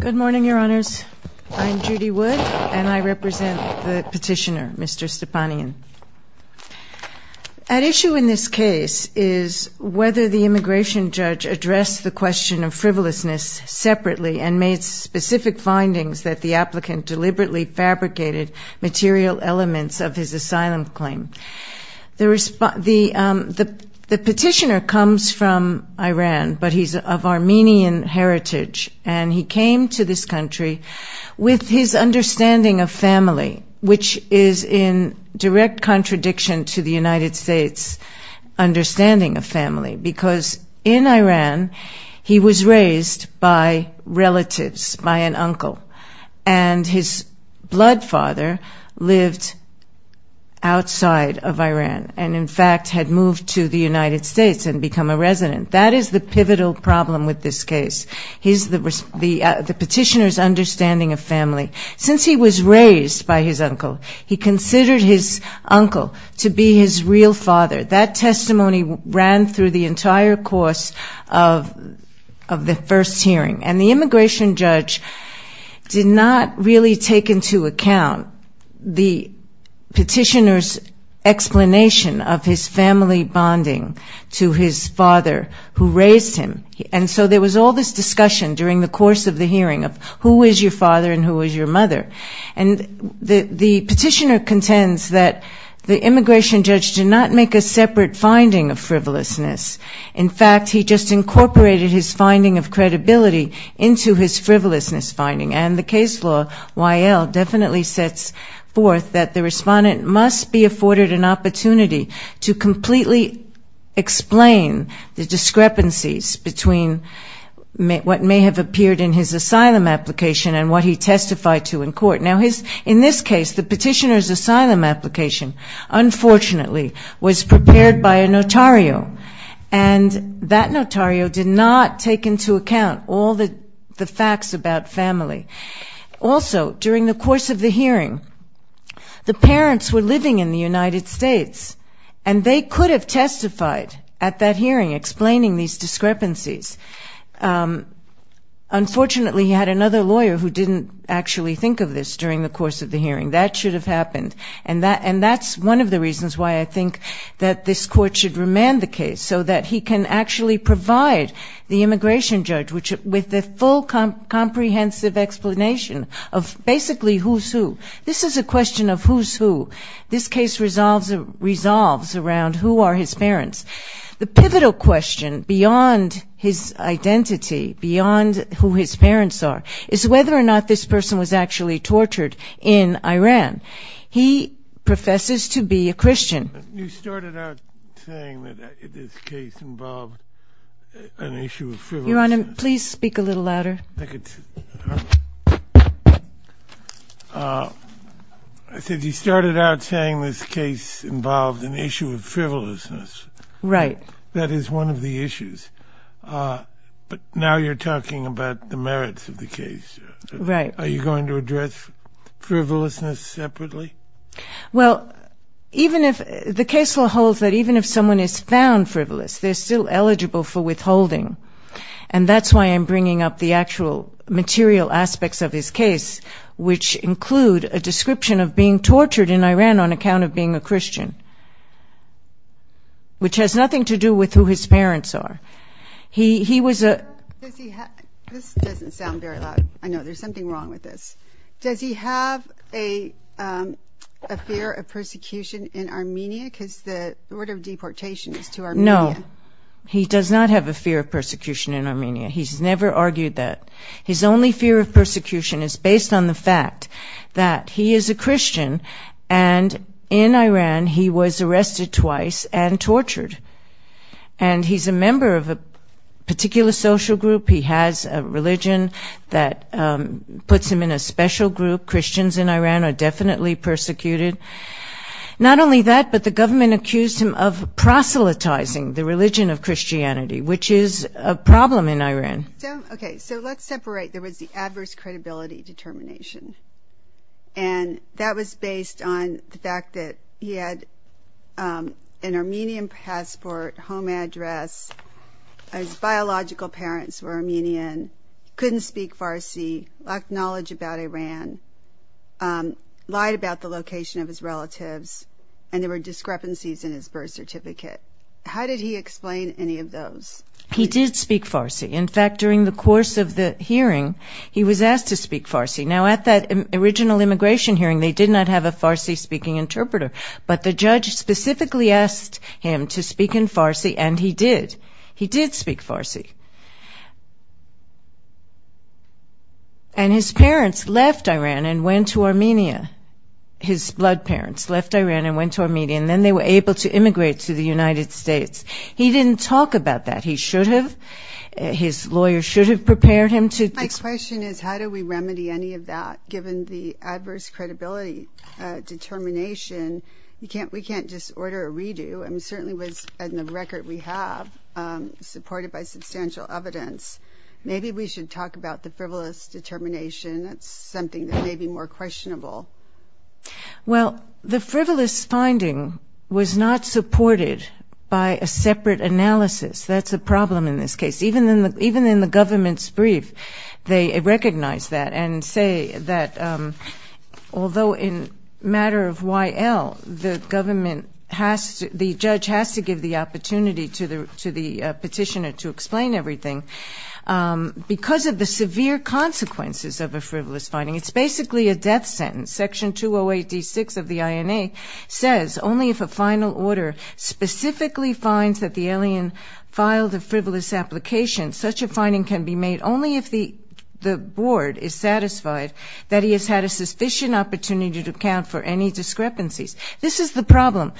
Good morning, Your Honors. I'm Judy Wood, and I represent the petitioner, Mr. Stepanian. At issue in this case is whether the immigration judge addressed the question of frivolousness separately and made specific findings that the applicant deliberately fabricated material elements of his asylum claim. The petitioner comes from Iran, but he's of Armenian heritage, and he came to this country with his understanding of family, which is in direct contradiction to the United States' understanding of family. Because in Iran, he was raised by relatives, by an uncle, and his blood father lived outside of Iran and, in fact, had moved to the United States and become a resident. That is the pivotal problem with this case, the petitioner's understanding of family. Since he was raised by his uncle, he considered his uncle to be his real father. That testimony ran through the entire course of the first hearing, and the immigration judge did not really take into account the petitioner's explanation of his family bonding to his father, who raised him. And so there was all this discussion during the course of the hearing of who is your father and who is your mother. And the petitioner contends that the immigration judge did not make a separate finding of frivolousness. In fact, he just incorporated his finding of credibility into his frivolousness finding. And the case law, Y.L., definitely sets forth that the respondent must be afforded an opportunity to completely explain the discrepancies between what may have appeared in his asylum application and what he testified to in court. Now, in this case, the petitioner's asylum application, unfortunately, was prepared by a notario, and that notario did not take into account all the facts about family. Also, during the course of the hearing, the parents were living in the United States, and they could have testified at that hearing, explaining these discrepancies. Unfortunately, he had another lawyer who didn't actually think of this during the course of the hearing. That should have happened. And that's one of the reasons why I think that this court should remand the case, so that he can actually provide the immigration judge with the full comprehensive explanation of basically who's who. This is a question of who's who. This case resolves around who are his parents. The pivotal question beyond his identity, beyond who his parents are, is whether or not this person was actually tortured in Iran. He professes to be a Christian. You started out saying that this case involved an issue of frivolousness. Your Honor, please speak a little louder. I said you started out saying this case involved an issue of frivolousness. Right. That is one of the issues. But now you're talking about the merits of the case. Right. Are you going to address frivolousness separately? Well, the case will hold that even if someone is found frivolous, they're still eligible for withholding. And that's why I'm bringing up the actual material aspects of his case, which include a description of being tortured in Iran on account of being a Christian, which has nothing to do with who his parents are. This doesn't sound very loud. I know there's something wrong with this. Does he have a fear of persecution in Armenia because the word of deportation is to Armenia? No, he does not have a fear of persecution in Armenia. He's never argued that. His only fear of persecution is based on the fact that he is a Christian, and in Iran he was arrested twice and tortured. And he's a member of a particular social group. He has a religion that puts him in a special group. Christians in Iran are definitely persecuted. Not only that, but the government accused him of proselytizing the religion of Christianity, which is a problem in Iran. Okay, so let's separate. There was the adverse credibility determination, and that was based on the fact that he had an Armenian passport, home address. His biological parents were Armenian, couldn't speak Farsi, lacked knowledge about Iran, lied about the location of his relatives, and there were discrepancies in his birth certificate. How did he explain any of those? He did speak Farsi. In fact, during the course of the hearing, he was asked to speak Farsi. Now, at that original immigration hearing, they did not have a Farsi-speaking interpreter, but the judge specifically asked him to speak in Farsi, and he did. He did speak Farsi. And his parents left Iran and went to Armenia. His blood parents left Iran and went to Armenia, and then they were able to immigrate to the United States. He didn't talk about that. He should have. His lawyer should have prepared him to. My question is how do we remedy any of that given the adverse credibility determination? We can't just order a redo. It certainly was in the record we have supported by substantial evidence. Maybe we should talk about the frivolous determination. That's something that may be more questionable. Well, the frivolous finding was not supported by a separate analysis. That's a problem in this case. Even in the government's brief, they recognize that and say that although in matter of YL, the government has to the judge has to give the opportunity to the petitioner to explain everything, because of the severe consequences of a frivolous finding, it's basically a death sentence. Section 208D6 of the INA says only if a final order specifically finds that the alien filed a frivolous application, such a finding can be made only if the board is satisfied that he has had a sufficient opportunity to account for any discrepancies. This is the problem.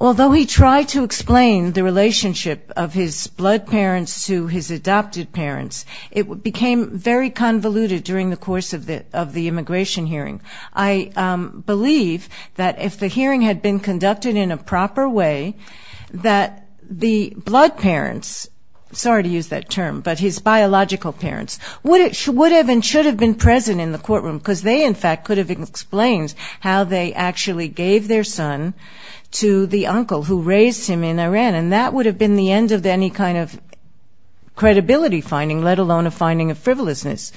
Although he tried to explain the relationship of his blood parents to his adopted parents, it became very convoluted during the course of the immigration hearing. I believe that if the hearing had been conducted in a proper way, that the blood parents, sorry to use that term, but his biological parents, would have and should have been present in the courtroom, because they in fact could have explained how they actually gave their son to the uncle who raised him in Iran. And that would have been the end of any kind of credibility finding, let alone a finding of frivolousness.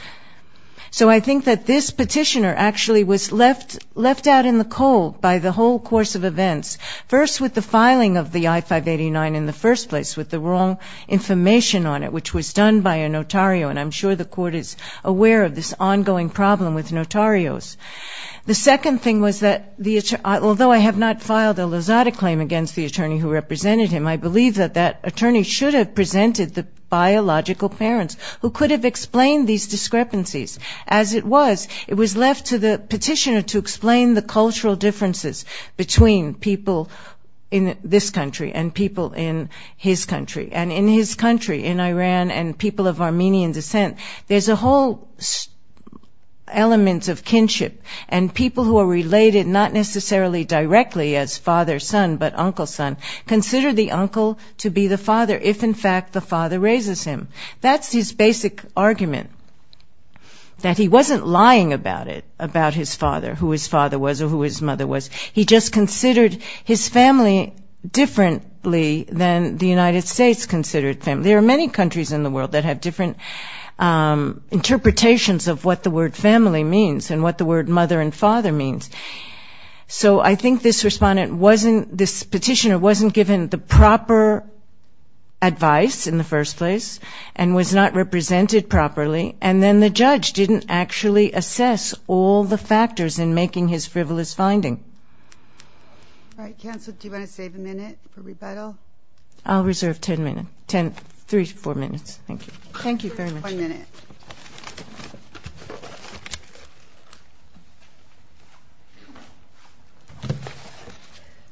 So I think that this petitioner actually was left out in the cold by the whole course of events. First, with the filing of the I-589 in the first place, with the wrong information on it, which was done by a notario, and I'm sure the court is aware of this ongoing problem with notarios. The second thing was that, although I have not filed a Lozada claim against the attorney who represented him, I believe that that attorney should have presented the biological parents who could have explained these discrepancies. As it was, it was left to the petitioner to explain the cultural differences between people in this country and people in his country, and in his country, in Iran, and people of Armenian descent. There's a whole element of kinship, and people who are related not necessarily directly as father, son, but uncle, son, consider the uncle to be the father, if in fact the father raises him. That's his basic argument, that he wasn't lying about it, about his father, who his father was or who his mother was. He just considered his family differently than the United States considered family. There are many countries in the world that have different interpretations of what the word family means and what the word mother and father means. He wasn't given the proper advice in the first place and was not represented properly, and then the judge didn't actually assess all the factors in making his frivolous finding. All right, counsel, do you want to save a minute for rebuttal? I'll reserve ten minutes, three to four minutes. Thank you. Thank you very much.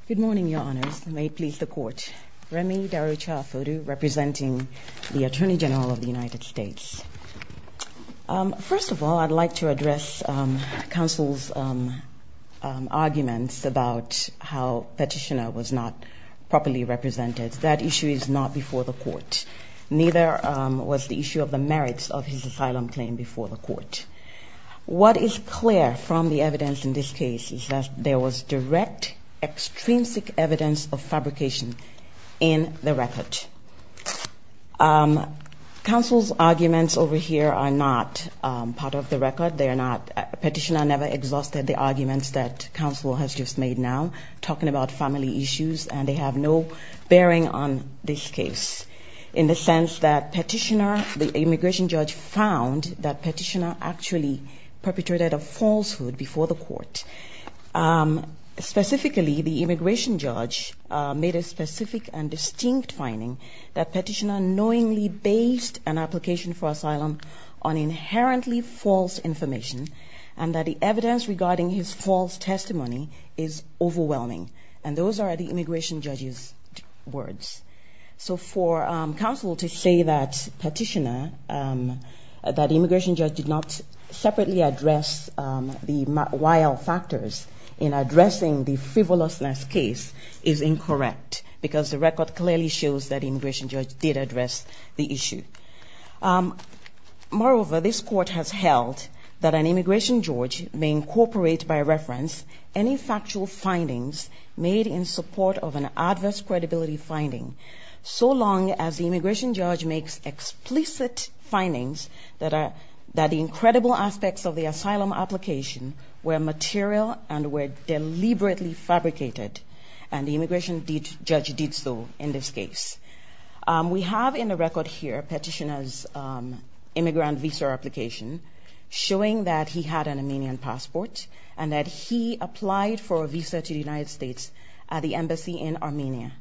Good morning, Your Honors, and may it please the Court. First of all, I'd like to address counsel's arguments about how Petitioner was not properly represented. That issue is not before the Court, neither was the issue of the merits of his asylum claim before the Court. What is clear from the evidence in this case is that there was direct, extrinsic evidence of fabrication in the record. Counsel's arguments over here are not part of the record. Petitioner never exhausted the arguments that counsel has just made now, talking about family issues, and they have no bearing on this case in the sense that Petitioner, the immigration judge, found that Petitioner actually perpetrated a falsehood before the Court. Specifically, the immigration judge made a specific and distinct finding that Petitioner knowingly based an application for asylum on inherently false information, and that the evidence regarding his false testimony is overwhelming. And those are the immigration judge's words. So for counsel to say that Petitioner, that the immigration judge did not separately address the wild factors in addressing the frivolousness case is incorrect, because the record clearly shows that the immigration judge did address the issue. Moreover, this Court has held that an immigration judge may incorporate, by reference, any factual findings made in support of an adverse credibility finding, so long as the immigration judge makes explicit findings that the incredible aspects of the asylum application were material and were deliberately fabricated, and the immigration judge did so in this case. We have in the record here Petitioner's immigrant visa application, showing that he had an Armenian passport, and that he applied for a visa to the United States at the embassy in Armenia.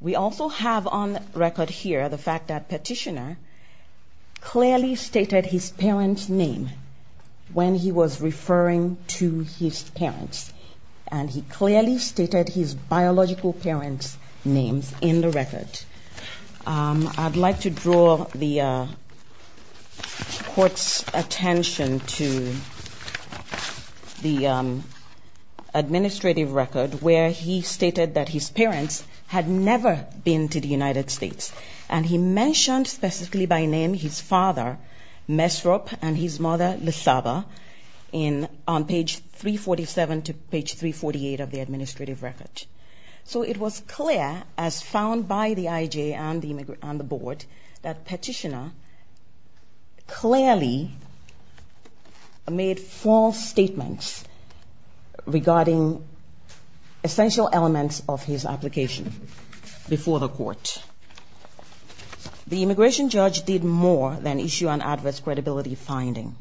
We also have on record here the fact that Petitioner clearly stated his parents' name when he was referring to his parents, and he clearly stated his biological parents' names in the record. I'd like to draw the Court's attention to the fact that Petitioner did not specifically address the wild factors in the administrative record, where he stated that his parents had never been to the United States, and he mentioned specifically by name his father, Mesrop, and his mother, Lesaba, on page 347 to page 348 of the administrative record. So it was clear, as found by the IJ and the board, that Petitioner clearly made false statements regarding essential elements of his application before the Court. The immigration judge did more than issue an adverse credibility finding.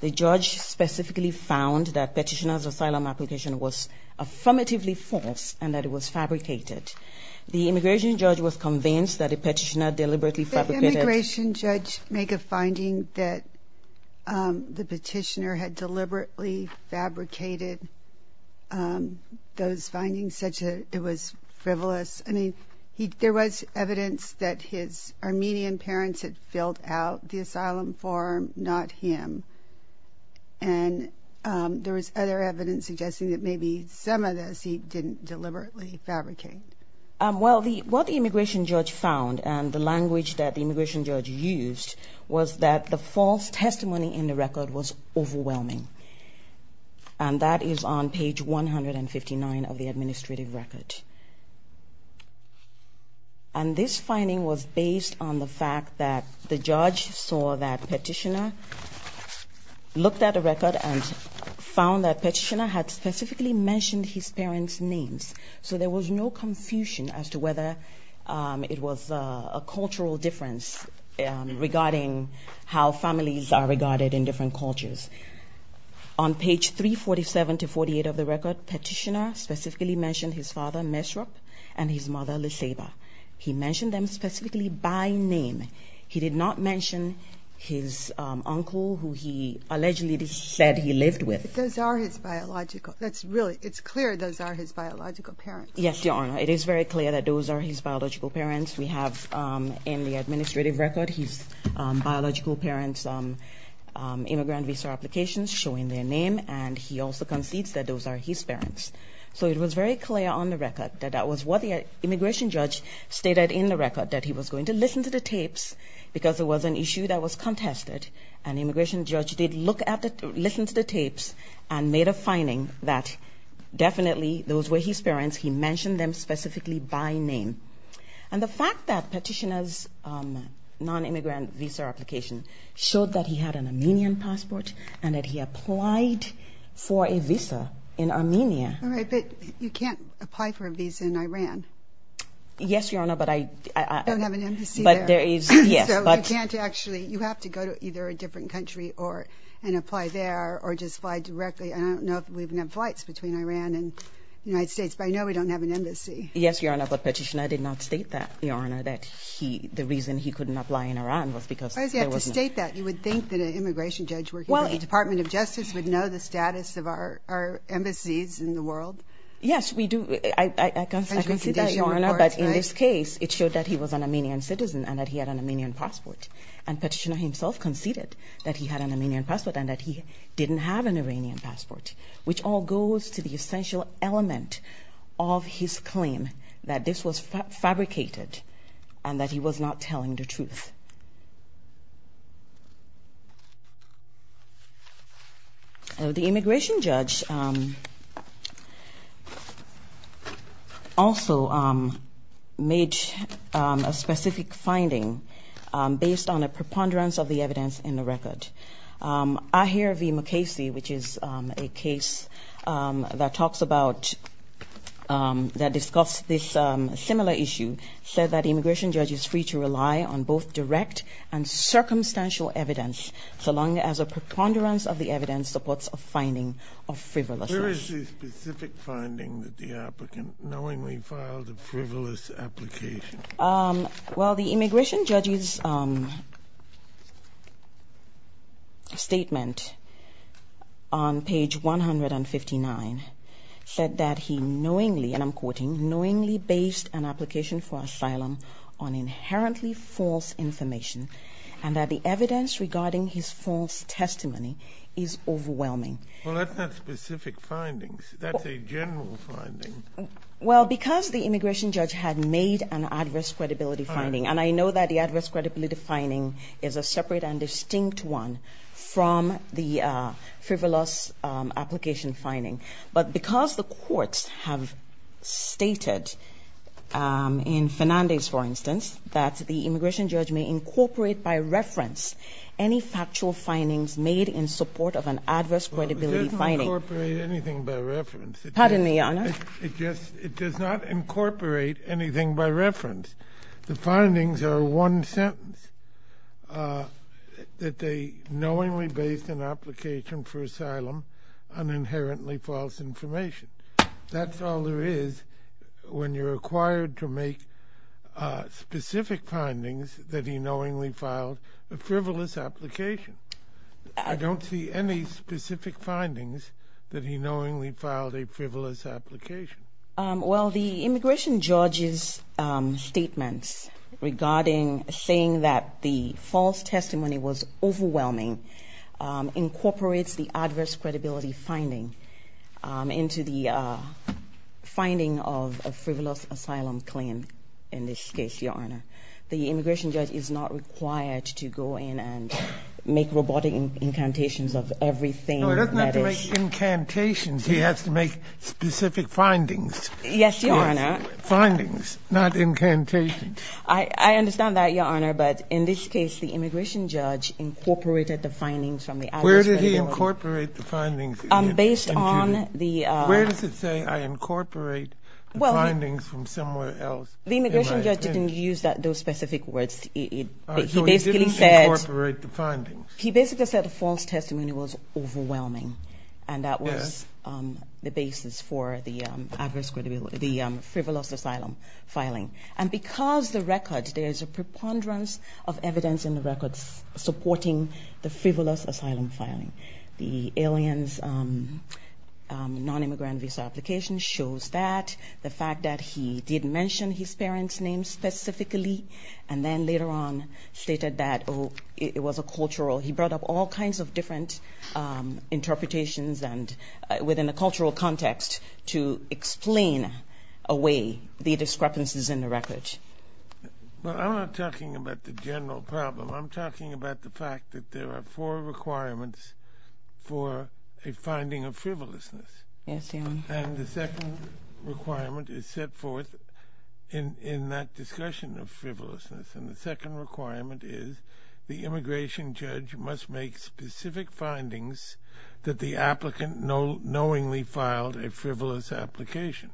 The judge specifically found that Petitioner's asylum application was affirmatively false and that it was fabricated. The immigration judge was convinced that the Petitioner deliberately fabricated... those findings, such that it was frivolous. I mean, there was evidence that his Armenian parents had filled out the asylum form, not him, and there was other evidence suggesting that maybe some of this he didn't deliberately fabricate. Well, what the immigration judge found, and the language that the immigration judge used, was that the false testimony in the record was overwhelming. And that is on page 159 of the administrative record. And this finding was based on the fact that the judge saw that Petitioner looked at the record and found that Petitioner had specifically mentioned his parents' names. So there was no confusion as to whether it was a cultural difference, regarding how families are regarded in different cultures. On page 347 to 348 of the record, Petitioner specifically mentioned his father, Mesrop, and his mother, Leseba. He mentioned them specifically by name. He did not mention his uncle, who he allegedly said he lived with. But those are his biological... it's clear those are his biological parents. Yes, Your Honor, it is very clear that those are his biological parents. We have in the administrative record his biological parents' immigrant visa applications showing their name, and he also concedes that those are his parents. So it was very clear on the record that that was what the immigration judge stated in the record, that he was going to listen to the tapes, because it was an issue that was contested. And the immigration judge did listen to the tapes and made a finding that definitely those were his parents. He mentioned them specifically by name. And the fact that Petitioner's non-immigrant visa application showed that he had an Armenian passport and that he applied for a visa in Armenia... All right, but you can't apply for a visa in Iran. Yes, Your Honor, but I... You have to go to either a different country and apply there or just fly directly. I don't know if we've had flights between Iran and the United States, but I know we don't have an embassy. Yes, Your Honor, but Petitioner did not state that, Your Honor, that the reason he couldn't apply in Iran was because there was no... No, Your Honor, but in this case, it showed that he was an Armenian citizen and that he had an Armenian passport. And Petitioner himself conceded that he had an Armenian passport and that he didn't have an Iranian passport, which all goes to the essential element of his claim that this was fabricated and that he was not telling the truth. The immigration judge also made a specific finding based on a preponderance of the evidence in the record. Ahir V. Mukasey, which is a case that talks about... that discusses this similar issue, said that the immigration judge is free to rely on both direct and circumstantial evidence so long as a preponderance of the evidence supports a finding of frivolousness. Well, the immigration judge's statement on page 159 and that the evidence regarding his false testimony is overwhelming. Well, that's not specific findings. That's a general finding. Well, because the immigration judge had made an adverse credibility finding, and I know that the adverse credibility finding is a separate and distinct one from the frivolous application finding, but because the courts have stated, in Fernandez, for instance, that the immigration judge may incorporate by reference any factual findings made in support of an adverse credibility finding... It does not incorporate anything by reference. The findings are one sentence, that they knowingly based an application for asylum on inherently false information. That's all there is when you're required to make specific findings that he knowingly filed a frivolous application. I don't see any specific findings that he knowingly filed a frivolous application. Well, the immigration judge's statements regarding... saying that the false testimony was overwhelming incorporates the adverse credibility finding into the finding of a frivolous asylum claim in this case, Your Honor. The immigration judge is not required to go in and make robotic incantations of everything that is... No, he doesn't have to make incantations. He has to make specific findings. Yes, Your Honor. Findings, not incantations. I understand that, Your Honor, but in this case, the immigration judge incorporated the findings from the adverse credibility... Where did he incorporate the findings? Where does it say I incorporate the findings from somewhere else? The immigration judge didn't use those specific words. He basically said the false testimony was overwhelming. And that was the basis for the frivolous asylum filing. And because the records, there's a preponderance of evidence in the records supporting the frivolous asylum filing. The alien's non-immigrant visa application shows that. The fact that he did mention his parents' names specifically, and then later on stated that it was a cultural... He brought up all kinds of different interpretations within a cultural context to explain away the discrepancies in the records. I'm not talking about the general problem. I'm talking about the fact that there are four requirements for a finding of frivolousness. And the second requirement is set forth in that discussion of frivolousness. And the second requirement is the immigration judge must make specific findings that the applicant knowingly filed a frivolous application.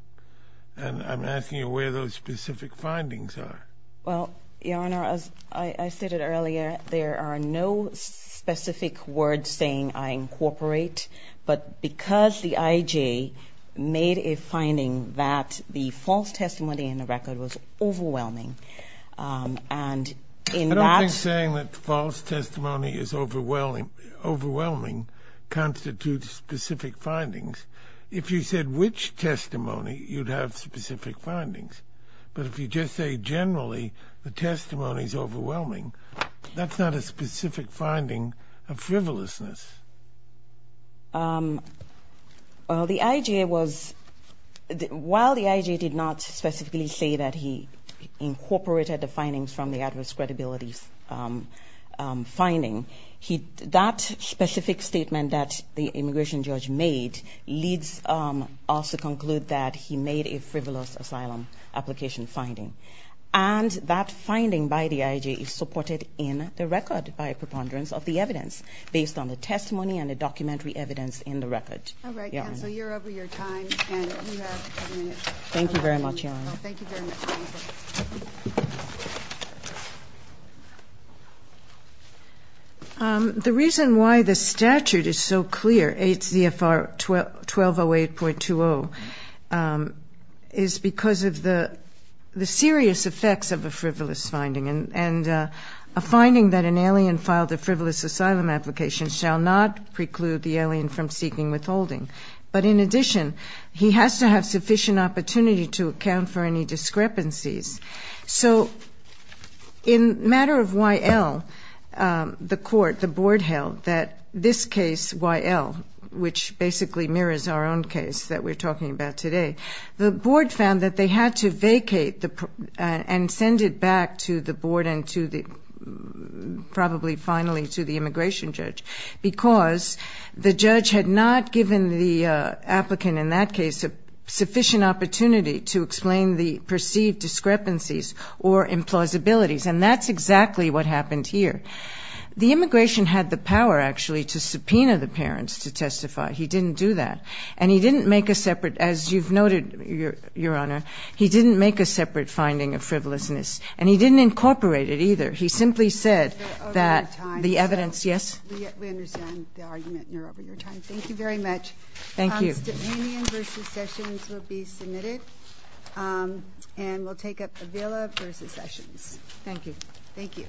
And I'm asking you where those specific findings are. Well, Your Honor, as I stated earlier, there are no specific words saying I incorporate. But because the IJ made a finding that the false testimony in the record was overwhelming, and in that... I don't think saying that false testimony is overwhelming constitutes specific findings. If you said which testimony, you'd have specific findings. But if you just say generally the testimony's overwhelming, that's not a specific finding of frivolousness. Well, the IJ was... While the IJ did not specifically say that he incorporated the findings from the adverse credibility finding, that specific statement that the immigration judge made leads us to conclude that he made a frivolous asylum application finding. And that finding by the IJ is supported in the record by preponderance of the evidence based on the testimony and the documentary evidence. All right, counsel, you're over your time. The reason why the statute is so clear, HZFR 1208.20, is because of the serious effects of a frivolous finding. And a finding that an alien filed a frivolous asylum application shall not preclude the alien filing a frivolous asylum application. But in addition, he has to have sufficient opportunity to account for any discrepancies. So in matter of YL, the court, the board held that this case, YL, which basically mirrors our own case that we're talking about today, the board found that they had to vacate and send it back to the board and probably finally to the immigration judge, because the judge had not given the applicant in that case a sufficient opportunity to explain the perceived discrepancies or implausibilities. And that's exactly what happened here. The immigration had the power, actually, to subpoena the parents to testify. He didn't do that. And he didn't make a separate, as you've noted, Your Honor, he didn't make a separate finding of frivolousness. And he didn't incorporate it, either. He simply said that the evidence... Over your time, Your Honor, we understand the argument, and you're over your time. Thank you very much. Constantinian v. Sessions will be submitted, and we'll take up Avila v. Sessions. Thank you.